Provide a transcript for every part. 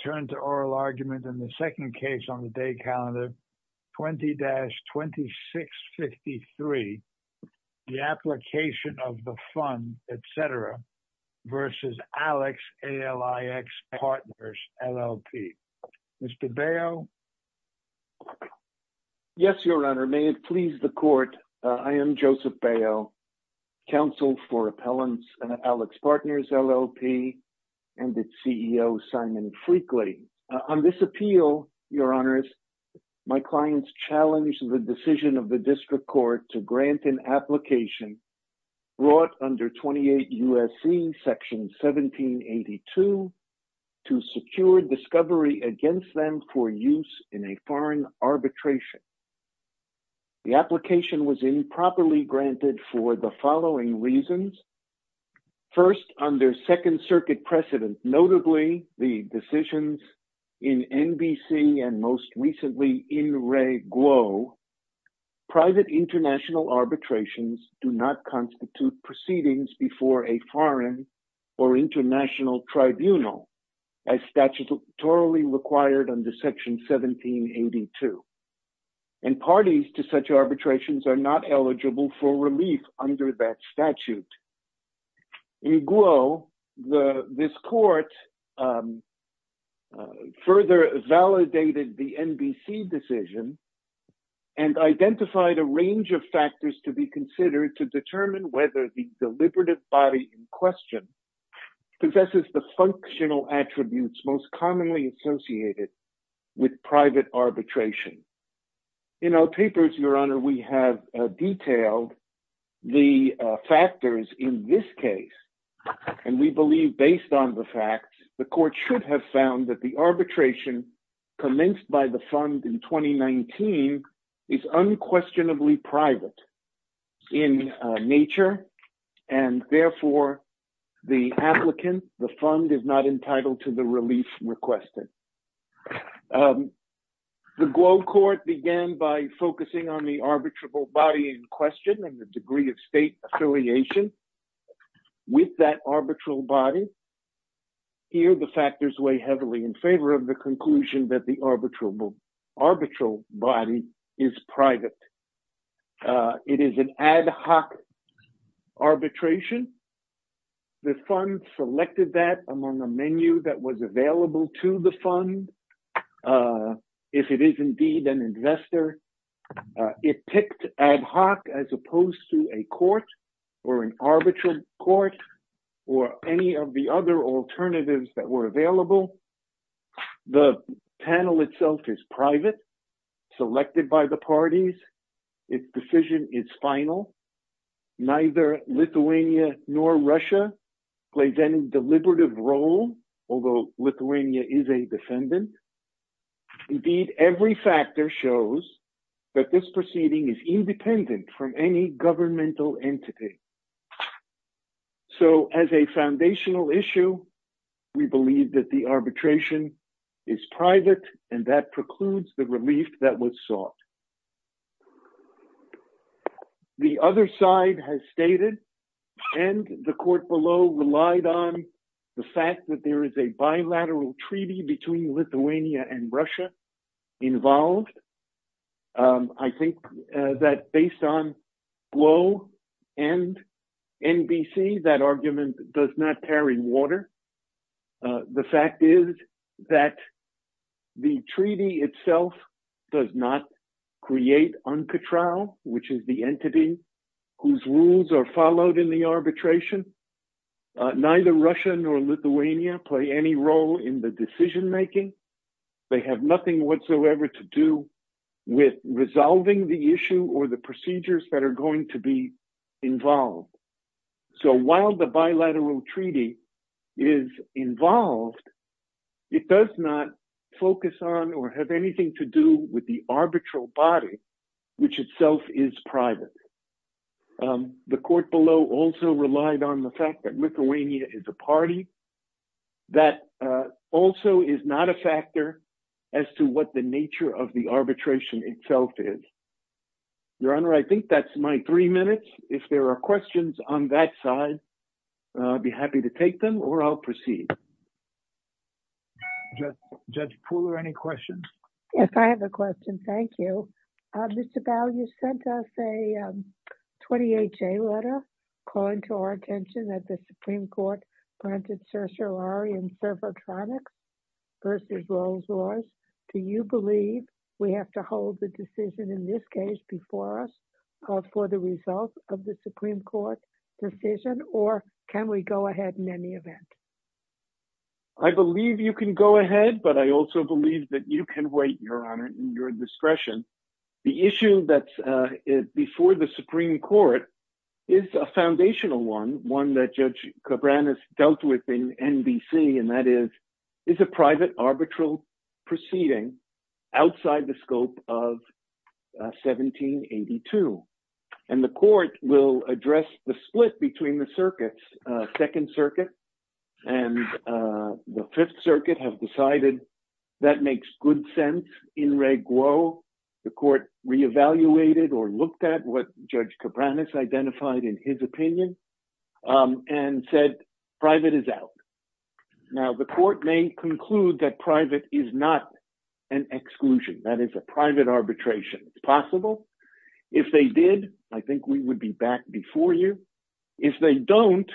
Yes, Your Honor. May it please the Court, I am Joseph Baio, Counsel for Appellants and On this appeal, Your Honors, my clients challenged the decision of the District Court to grant an application brought under 28 U.S.C. Section 1782 to secure discovery against them for use in a foreign arbitration. The application was improperly granted for the following reasons. First, under Second Circuit precedent, notably the decisions in N.B.C. and most recently in Ray Guo, private international arbitrations do not constitute proceedings before a foreign or international tribunal as statutorily required under Section 1782. And parties to such arbitrations are not eligible for relief under that statute. In Guo, this Court further validated the N.B.C. decision and identified a range of factors to be considered to determine whether the deliberative body in question possesses the functional attributes most commonly associated with private arbitration. In our papers, Your Honor, we have detailed the factors in this case. And we believe, based on the facts, the Court should have found that the arbitration commenced by the Fund in 2019 is unquestionably private in nature, and therefore the applicant, the Fund, is not entitled to the relief requested. The Guo Court began by focusing on the arbitrable body in question and the degree of state affiliation with that arbitral body. Here, the factors weigh heavily in favor of the conclusion that the arbitrable arbitral body is private. It is an ad hoc arbitration. The Fund selected that among a menu that was available to the Fund. If it is indeed an investor, it picked ad hoc as opposed to a court or an arbitral court or any of the other alternatives that were available. The panel itself is private, selected by the parties. Its decision is final. Neither Lithuania nor Russia plays any deliberative role, although Lithuania is a defendant. Indeed, every factor shows that this proceeding is independent from any governmental entity. So, as a foundational issue, we believe that the arbitration is private, and that precludes the relief that was sought. The other side has stated, and the Court below relied on, the fact that there is a bilateral treaty between Lithuania and Russia involved. I think that based on Guo and NBC, that argument does not carry water. The fact is that the treaty itself does not create UNCATRAL, which is the entity whose rules are followed in the arbitration. Neither Russia nor Lithuania play any role in the decision-making. They have nothing whatsoever to do with resolving the issue or the procedures that are going to be involved. So, while the bilateral treaty is involved, it does not focus on or have anything to do with the arbitral body, which itself is private. The Court below also relied on the fact that Lithuania is a party. That also is not a factor as to what the nature of the arbitration itself is. Your Honor, I think that's my three minutes. If there are questions on that side, I'd be happy to take them, or I'll proceed. Judge Pooler, any questions? Yes, I have a question. Thank you. Mr. Bow, you sent us a 28-J letter calling to our attention that the Supreme Court granted certiorari and servotronics versus Rolls-Royce. Do you believe we have to hold the decision in this case before us for the result of the Supreme Court decision, or can we go ahead in any event? I believe you can go ahead, but I also believe that you can wait, Your Honor, in your discretion. The issue that's before the Supreme Court is a foundational one, one that Judge Cabran has dealt with in NBC, and that is, it's a private arbitral proceeding outside the scope of 1782. And the Court will address the in re guo. The Court re-evaluated or looked at what Judge Cabran has identified in his opinion and said private is out. Now, the Court may conclude that private is not an exclusion, that is a private arbitration. It's possible. If they did, I think we would be back before you. If they don't,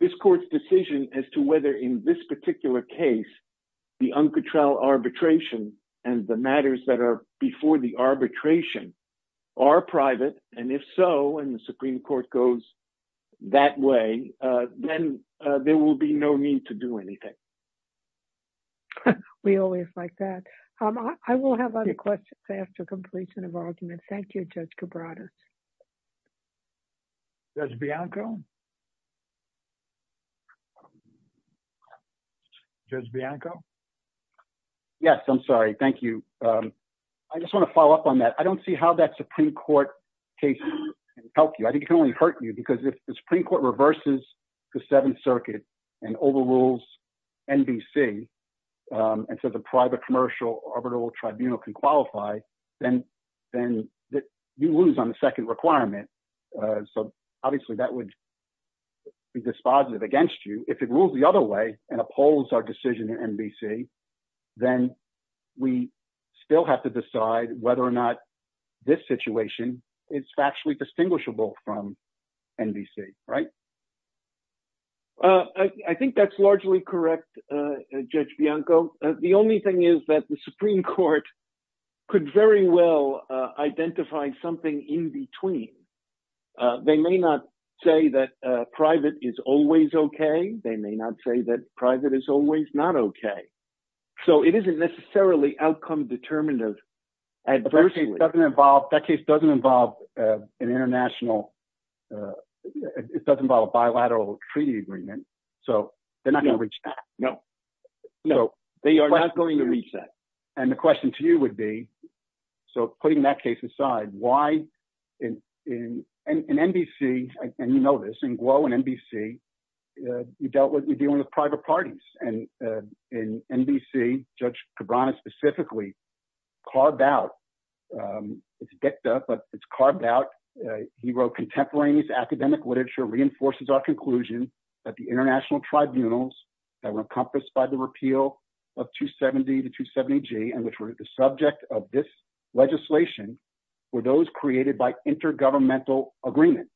this Court's decision as to whether in this particular case the uncontrolled arbitration and the matters that are before the arbitration are private, and if so, and the Supreme Court goes that way, then there will be no need to do anything. We always like that. I will have other questions after completion of argument. Thank you, Judge Cabran. Judge Bianco? Yes, I'm sorry. Thank you. I just want to follow up on that. I don't see how that Supreme Court case can help you. I think it can only hurt you, because if the Supreme Court reverses the Seventh Circuit and overrules NBC, and so the private commercial arbitral tribunal can qualify, then you lose on the second requirement. Obviously, that would be dispositive against you. If it rules the other way and upholds our decision in NBC, then we still have to decide whether or not this situation is factually distinguishable from NBC, right? I think that's largely correct, Judge Bianco. The only thing is that the Supreme Court could very well identify something in between. They may not say that private is always okay. They may not say that private is always not okay. It isn't necessarily outcome determinative adversely. That case doesn't involve an international, it doesn't involve a bilateral treaty agreement. They're not going to reach that. No, they are not going to reach that. The question to you would be, putting that case aside, why in NBC, and you know this, in Glow and NBC, you're dealing with private parties. In NBC, Judge Cabrera specifically carved out, it's dicta, but it's carved out. He wrote contemporaneous academic literature, reinforces our conclusion that the international tribunals that were encompassed by the repeal of 270 to 270G, and which were the subject of this legislation, were those created by intergovernmental agreement.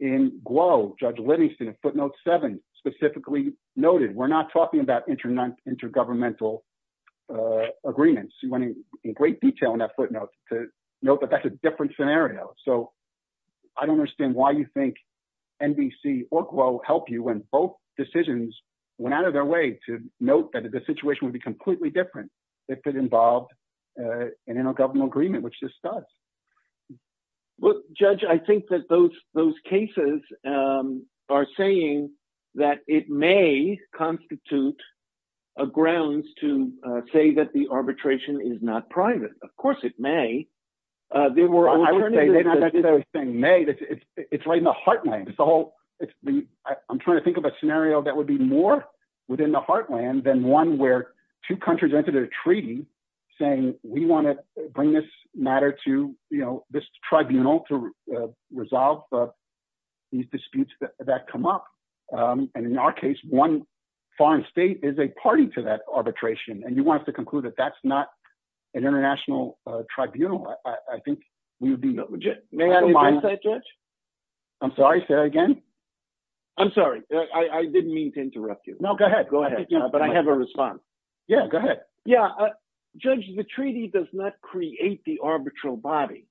In Glow, Judge Livingston, footnote seven, specifically noted, we're not talking about intergovernmental agreements. He went in great detail in that footnote to note that that's a different scenario. So, I don't understand why you think NBC or Glow helped you when both decisions went out of their way to note that the situation would be completely different if it involved an intergovernmental agreement, which this does. Well, Judge, I think that those cases are saying that it may constitute a grounds to say that the arbitration is not private. Of course, it may. They were, I would say, they're not necessarily saying may, it's right in the heartland. It's the whole, I'm trying to think of a scenario that would be more within the heartland than one where two countries entered a treaty saying, we want to bring this matter to this tribunal to resolve these disputes that come up. And in our case, one foreign state is a party to that arbitration. And you want us to conclude that that's not an international tribunal. I think we would be not legit. I'm sorry, say that again. I'm sorry. I didn't mean to interrupt you. No, go ahead. Go ahead. Yeah, go ahead. Yeah. Judge, the treaty does not create the arbitral body.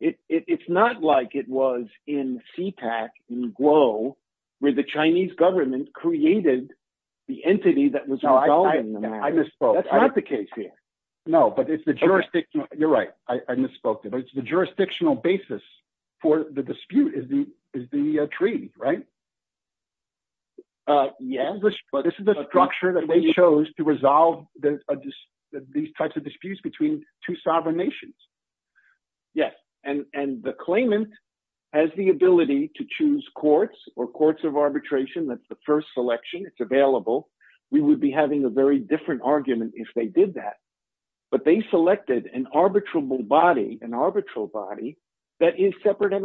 It's not like it was in CPAC and Glow where the Chinese government created the entity that was resolving the matter. I misspoke. That's not the case here. No, but it's the jurisdiction. You're right. I misspoke there, but it's the jurisdictional basis for the dispute is the treaty, right? Yes, but this is the structure that they chose to resolve these types of disputes between two sovereign nations. Yes. And the claimant has the ability to choose courts or courts of arbitration. That's the first selection. It's available. We would be having a very different argument if they did that, but they selected an arbitrable body, an arbitral body that is separate and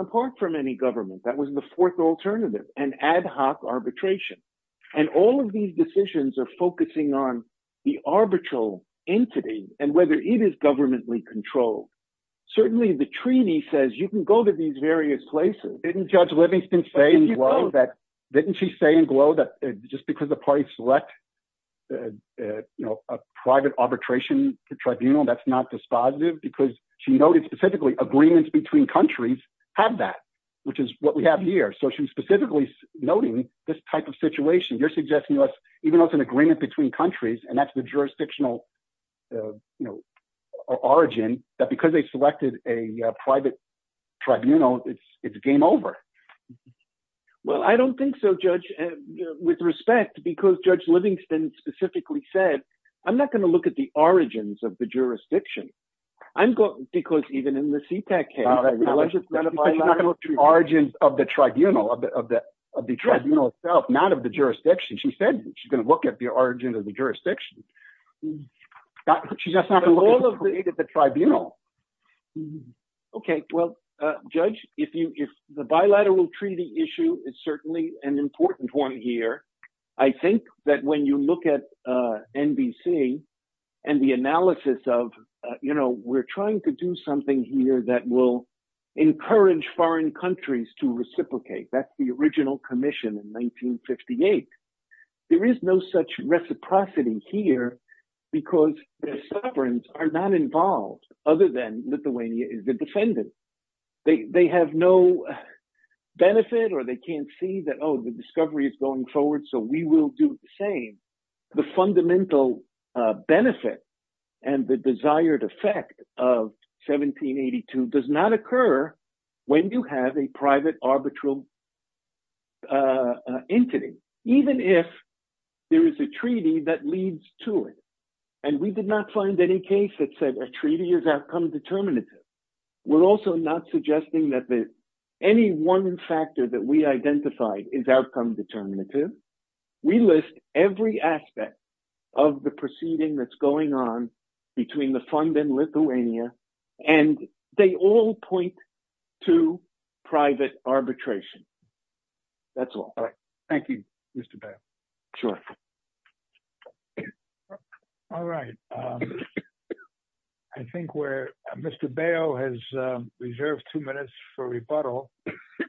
ad hoc arbitration. And all of these decisions are focusing on the arbitral entity and whether it is governmentally controlled. Certainly the treaty says you can go to these various places. Didn't Judge Livingston say in Glow that just because the party select a private arbitration tribunal, that's not dispositive because she noted specifically agreements between countries have that, which is what we have here. So she was specifically noting this type of situation. You're suggesting to us, even though it's an agreement between countries and that's the jurisdictional origin that because they selected a private tribunal, it's game over. Well, I don't think so, Judge, with respect because Judge Livingston specifically said, I'm not going to look at the origins of the jurisdiction. I'm going because even in the origins of the tribunal, of the tribunal itself, not of the jurisdiction. She said she's going to look at the origin of the jurisdiction. She's not going to look at the tribunal. Okay. Well, Judge, if you, if the bilateral treaty issue is certainly an important one here, I think that when you look at NBC and the analysis of, you know, we're trying to do something here that will encourage foreign countries to reciprocate. That's the original commission in 1958. There is no such reciprocity here because the sovereigns are not involved other than Lithuania is the defendant. They have no benefit or they can't see that, oh, the discovery is going forward. So we will do the same. The fundamental benefit and the desired effect of 1782 does not occur when you have a private arbitral entity, even if there is a treaty that leads to it. And we did not find any case that said a treaty is outcome determinative. We're also not suggesting that any one factor that we identified is outcome determinative. We list every aspect of the proceeding that's going on between the fund and Lithuania and they all point to private arbitration. That's all. All right. Thank you, Mr. Bail. Sure. All right. I think we're, Mr. Bail has reserved two minutes for rebuttal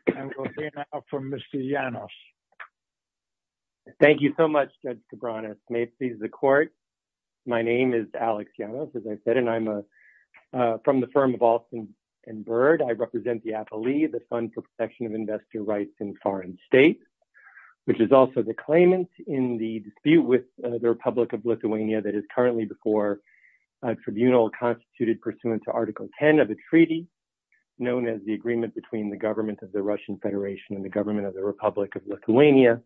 and we'll hear now from Mr. Janos. Thank you so much, Judge Cabranes. May it please the court. My name is Alex Janos, as I said, and I'm from the firm of Alston and Byrd. I represent the Apoly, the Fund for Protection of Investor Rights in Foreign States, which is also the claimant in the dispute with the Republic of Lithuania that is currently before a tribunal constituted pursuant to Article 10 of the treaty known as the agreement between the government of the Russian Federation and the government of the Republic of Lithuania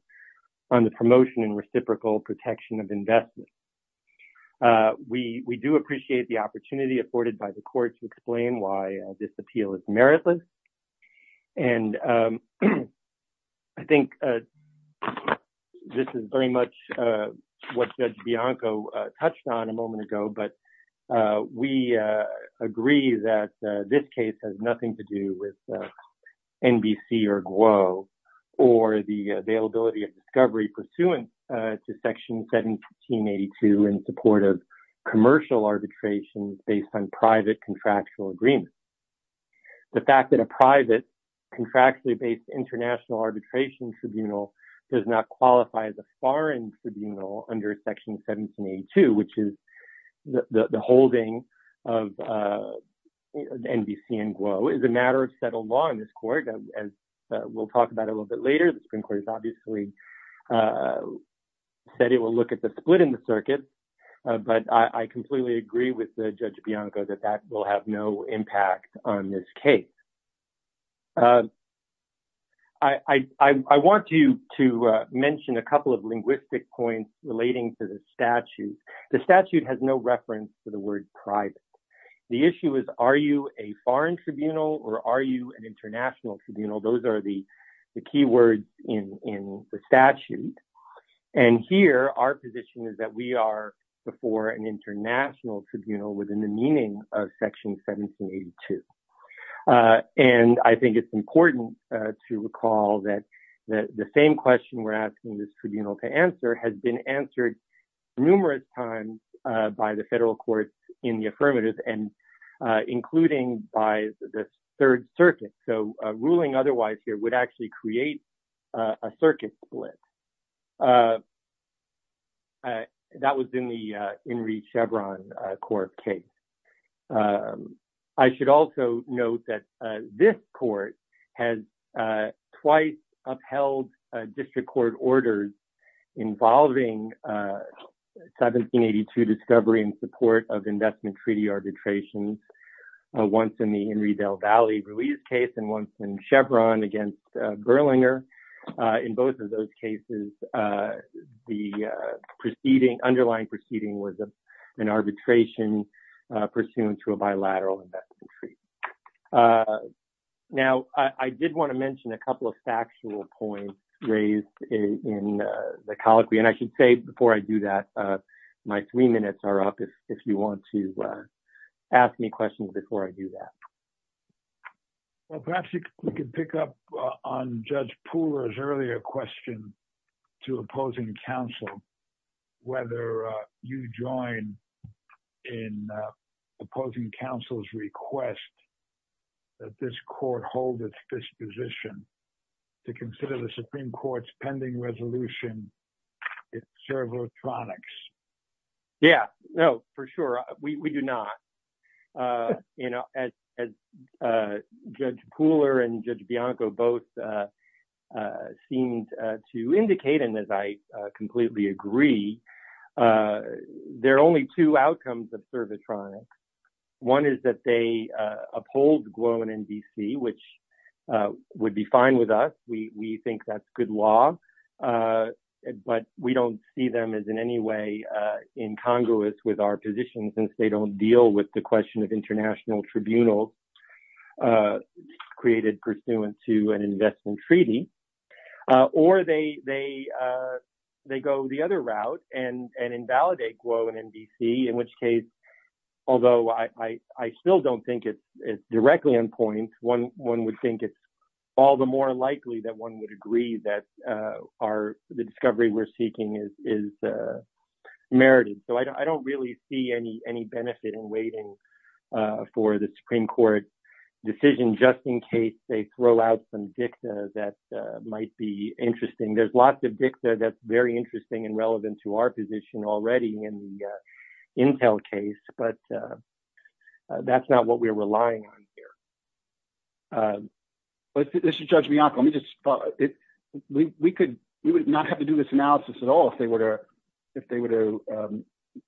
on the promotion and reciprocal protection of investment. We do appreciate the opportunity afforded by the court to explain why this appeal is meritless. And I think this is very much what Judge Bianco touched on a moment ago, but we agree that this case has nothing to do with NBC or Glow or the availability of discovery pursuant to Section 1782 in support of commercial arbitrations based on private contractual agreements. The fact that a private contractually based international tribunal does not qualify as a foreign tribunal under Section 1782, which is the holding of NBC and Glow, is a matter of settled law in this court, as we'll talk about a little bit later. The Supreme Court has obviously said it will look at the split in the circuit, but I completely agree with Judge Bianco that that will have no impact on this case. I want to mention a couple of linguistic points relating to the statute. The statute has no reference to the word private. The issue is, are you a foreign tribunal or are you an international tribunal? Those are the key words in the statute. And here, our position is that we are before an international tribunal. And I think it's important to recall that the same question we're asking this tribunal to answer has been answered numerous times by the federal courts in the affirmative and including by the Third Circuit. So, ruling otherwise here would actually create a circuit split. That was in the Henry Chevron court case. I should also note that this court has twice upheld district court orders involving 1782 discovery and support of investment in both of those cases. The underlying proceeding was an arbitration pursuant to a bilateral investment treaty. Now, I did want to mention a couple of factual points raised in the colloquy, and I should say before I do that, my three minutes are up if you want to ask me questions before I do that. Well, perhaps we could pick up on Judge Pooler's earlier question to opposing counsel, whether you join in opposing counsel's request that this court hold its disposition to consider the Supreme Court's pending resolution in servotronics. Yeah, no, for sure. We do not. You know, as Judge Pooler and Judge Bianco both seemed to indicate, and as I completely agree, there are only two outcomes of servotronics. One is that they uphold Gluon and DC, which would be fine with us. We think that's good law, but we don't see them as in any way incongruous with our position since they don't deal with the question of international tribunal created pursuant to an investment treaty. Or they go the other route and invalidate Gluon and DC, in which case, although I still don't think it's directly on point, one would think it's all the more likely that one would agree that the discovery we're seeking is merited. So I don't really see any benefit in waiting for the Supreme Court decision just in case they throw out some dicta that might be interesting. There's lots of dicta that's very interesting and relevant to our position already in the Intel case, but that's not what we're relying on here. But Mr. Judge Bianco, let me just follow up. We would not have to do this analysis at all if they were to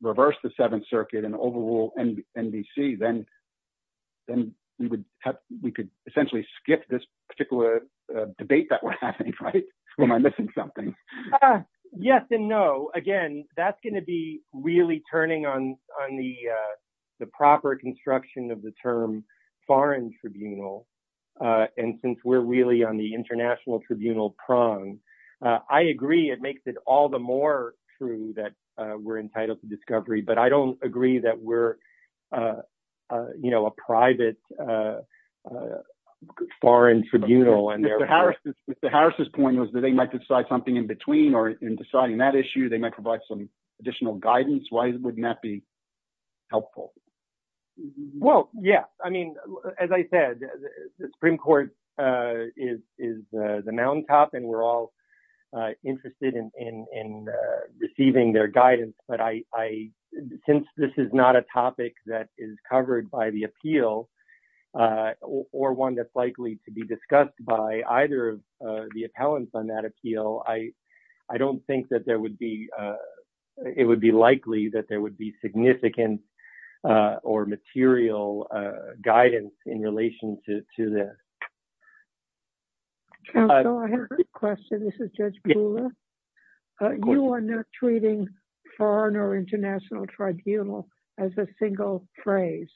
reverse the Seventh Circuit and overrule NBC, then we could essentially skip this particular debate that we're having, right? Or am I missing something? Yes and no. Again, that's going to be really turning on the proper construction of the term foreign tribunal. And since we're really on the international tribunal prong, I agree it makes it all the more true that we're entitled to discovery, but I don't agree that we're a private foreign tribunal. Mr. Harris's point was that they might decide something in between or in deciding that issue, they might provide some additional guidance. Why would that be helpful? Well, yeah. I mean, as I said, the Supreme Court is the mountaintop and we're all interested in receiving their guidance. But since this is not a topic that is covered by the appeal or one that's likely to be discussed by either of the appellants on that appeal, I don't think that there would be, it would be likely that there would be significant or material guidance in relation to this. Counsel, I have a question. This is Judge Brewer. You are not treating foreign or international tribunal as a single phrase,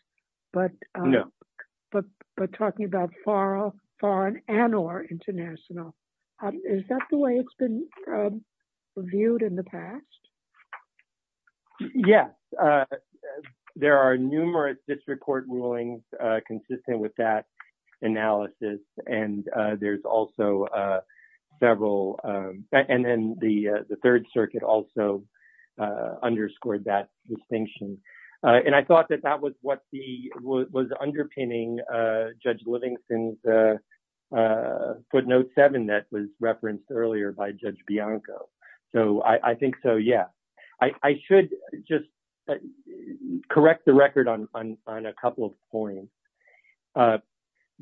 but talking about foreign and or international. Is that the way it's been viewed in the past? Yes. There are numerous district court rulings consistent with that analysis. And there's also several, and then the third circuit also underscored that distinction. And I thought that that was what the, was underpinning Judge Note 7 that was referenced earlier by Judge Bianco. So I think so, yeah. I should just correct the record on a couple of points.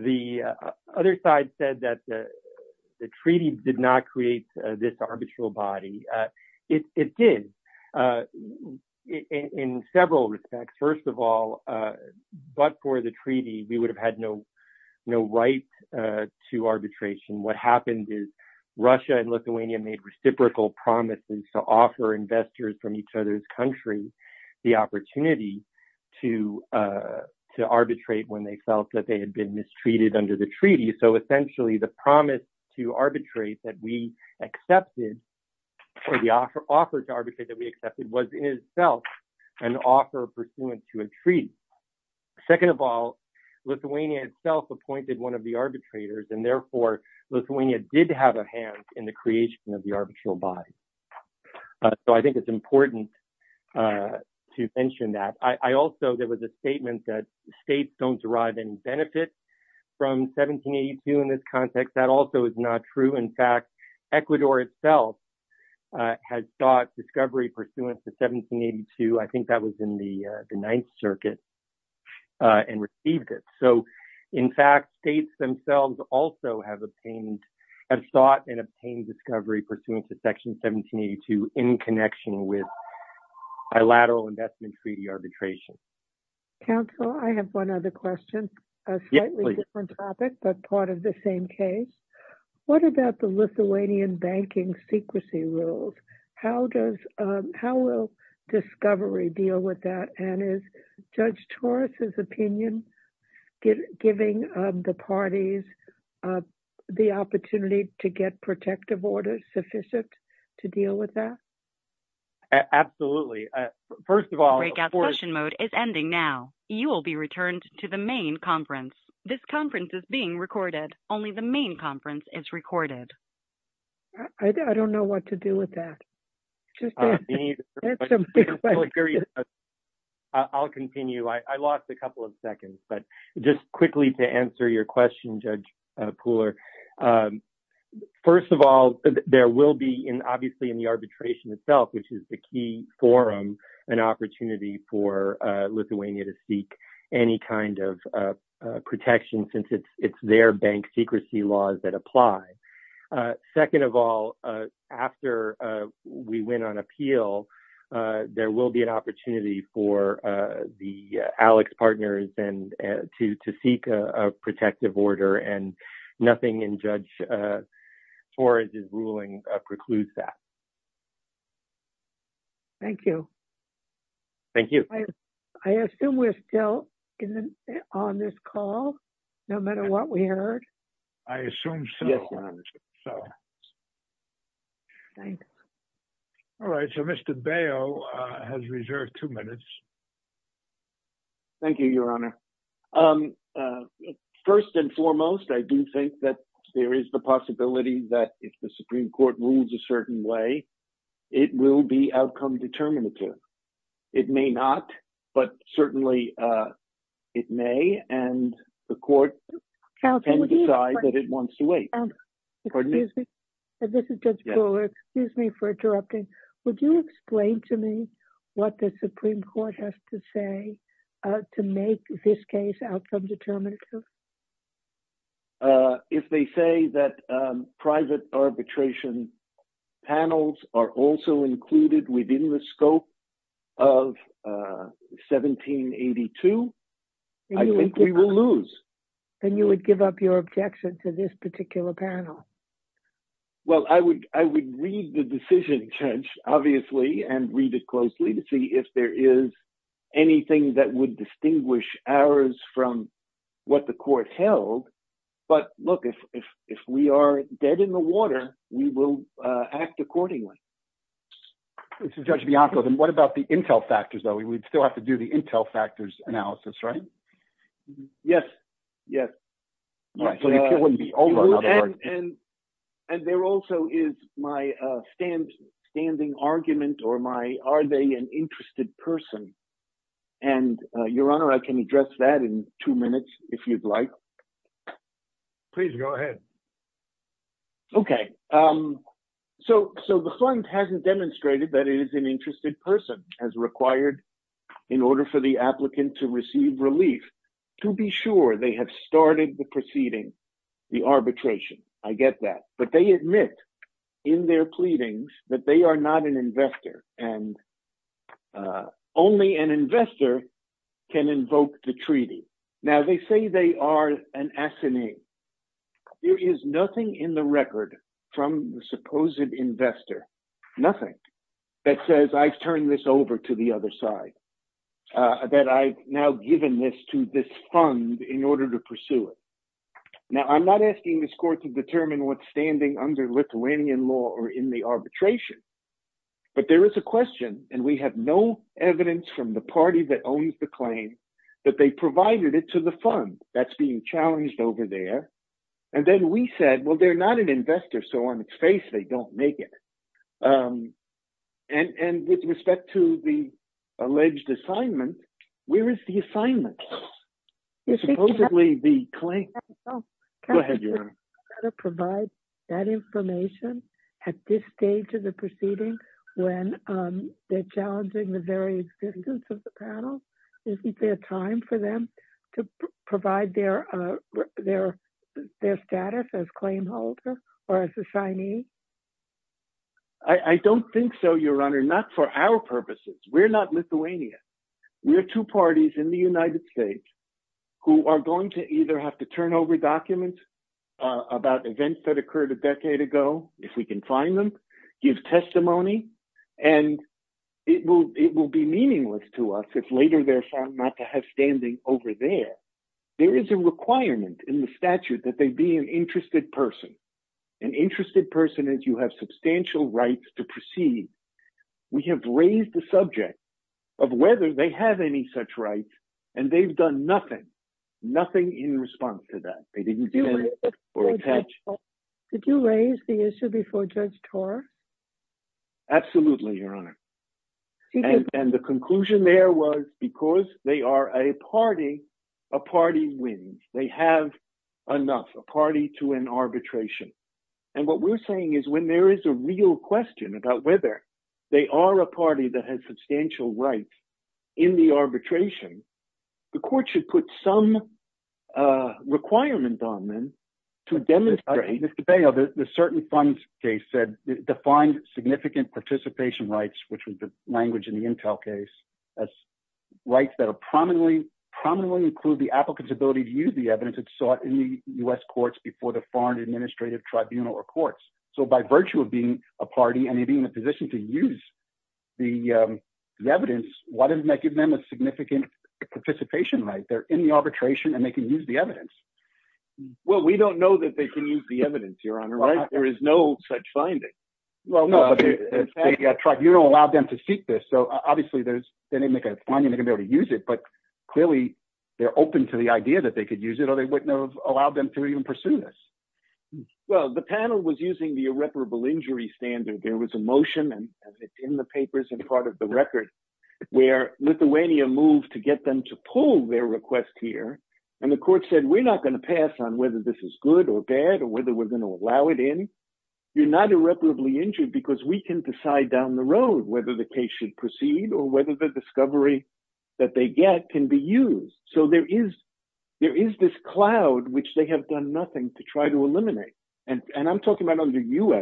The other side said that the treaty did not create this arbitral body. It did in several respects. First of all, but for the treaty, we would have no right to arbitration. What happened is Russia and Lithuania made reciprocal promises to offer investors from each other's country the opportunity to arbitrate when they felt that they had been mistreated under the treaty. So essentially the promise to arbitrate that we accepted or the offer to arbitrate that we accepted was in itself an offer pursuant to a treaty. Lithuania itself appointed one of the arbitrators, and therefore Lithuania did have a hand in the creation of the arbitral body. So I think it's important to mention that. I also, there was a statement that states don't derive any benefits from 1782 in this context. That also is not true. In fact, Ecuador itself has sought discovery pursuant to 1782. I think that was in the Ninth Circuit and received it. So in fact, states themselves also have obtained, have sought and obtained discovery pursuant to section 1782 in connection with bilateral investment treaty arbitration. Counsel, I have one other question, a slightly different topic, but part of the same case. What about the Lithuanian banking secrecy rules? How does, how will discovery deal with that? And is Judge Torres' opinion giving the parties the opportunity to get protective orders sufficient to deal with that? Absolutely. First of all... Breakout session mode is ending now. You will be returned to the main conference. This conference is being recorded. Only the public can hear you. I'll continue. I lost a couple of seconds, but just quickly to answer your question, Judge Pooler. First of all, there will be in, obviously in the arbitration itself, which is the key forum, an opportunity for Lithuania to seek any kind of protection since it's their bank secrecy laws that apply. Second of all, after we went on appeal, there will be an opportunity for the Alex partners to seek a protective order and nothing in Judge Torres' ruling precludes that. Thank you. Thank you. I assume we're still on this call, no matter what we heard. I assume so. Thanks. All right. So Mr. Baio has reserved two minutes. Thank you, Your Honor. First and foremost, I do think that there is the possibility that if the it may not, but certainly it may, and the court can decide that it wants to wait. Excuse me. This is Judge Pooler. Excuse me for interrupting. Would you explain to me what the Supreme Court has to say to make this case outcome determinative? If they say that private arbitration panels are also included within the scope of 1782, I think we will lose. Then you would give up your objection to this particular panel. Well, I would read the decision, Judge, obviously, and read it closely to see if there is anything that would distinguish ours from what the court held. But look, if we are dead in the water, we will act accordingly. This is Judge Bianco. Then what about the intel factors, though? We would still have to do the intel factors analysis, right? Yes. Yes. And there also is my standing argument or my, are they an interested person? And Your Honor, I can address that in two minutes, if you'd like. Please go ahead. Okay. So the fund hasn't demonstrated that it is an interested person as required in order for the applicant to receive relief, to be sure they have started the proceeding, the arbitration. I get that. But they admit in their pleadings that they are not an investor, can invoke the treaty. Now, they say they are an assinee. There is nothing in the record from the supposed investor, nothing, that says I've turned this over to the other side, that I've now given this to this fund in order to pursue it. Now, I'm not asking this court to determine what's standing under Lithuanian law or in the arbitration. But there is a question, and we have no evidence from the party that owns the claim, that they provided it to the fund that's being challenged over there. And then we said, well, they're not an investor. So on its face, they don't make it. And with respect to the alleged assignment, where is the assignment? Supposedly the claim... Go ahead, Your Honor. To provide that information at this stage of the proceeding, when they're challenging the very existence of the panel, isn't there time for them to provide their status as claim holder or as assignee? I don't think so, Your Honor. Not for our purposes. We're not Lithuanian. We're two parties in the United States who are going to either have to turn over documents about events that occurred a decade ago, if we can find them, give testimony, and it will be meaningless to us if later they're found not to have standing over there. There is a requirement in the statute that they be an interested person, an interested person as you have substantial rights to proceed. We have raised the subject of whether they have any such rights, and they've nothing, nothing in response to that. Did you raise the issue before Judge Torr? Absolutely, Your Honor. And the conclusion there was because they are a party, a party wins. They have enough, a party to an arbitration. And what we're saying is when there is a real question about whether they are a party that has substantial rights in the arbitration, the court should put some requirement on them to demonstrate- Mr. Bail, the certain funds case said it defined significant participation rights, which was the language in the Intel case, as rights that are prominently, prominently include the applicant's ability to use the evidence that's sought in the U.S. courts before the position to use the evidence, why didn't that give them a significant participation right? They're in the arbitration and they can use the evidence. Well, we don't know that they can use the evidence, Your Honor, right? There is no such finding. Well, no, but you don't allow them to seek this. So, obviously, there's, they didn't make a finding they can be able to use it, but clearly they're open to the idea that they could use it or they wouldn't have allowed them to even pursue this. Well, the panel was using the irreparable injury standard. There was a motion and it's in the papers and part of the record where Lithuania moved to get them to pull their request here. And the court said, we're not going to pass on whether this is good or bad or whether we're going to allow it in. You're not irreparably injured because we can decide down the road whether the case should proceed or whether the discovery that they get can be used. So, there is this cloud, which they have done nothing to try to do.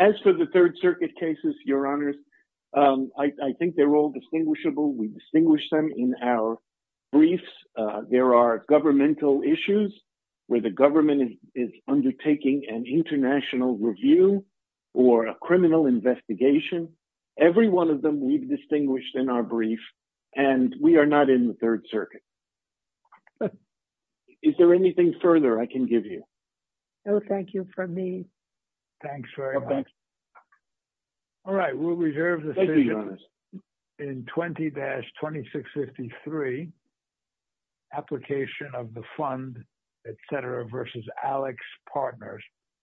As for the Third Circuit cases, Your Honors, I think they're all distinguishable. We distinguish them in our briefs. There are governmental issues where the government is undertaking an international review or a criminal investigation. Every one of them we've distinguished in our circuit. Is there anything further I can give you? No, thank you for me. Thanks very much. All right, we'll reserve the stage in 20-2653, application of the fund, etc. versus Alex Partners.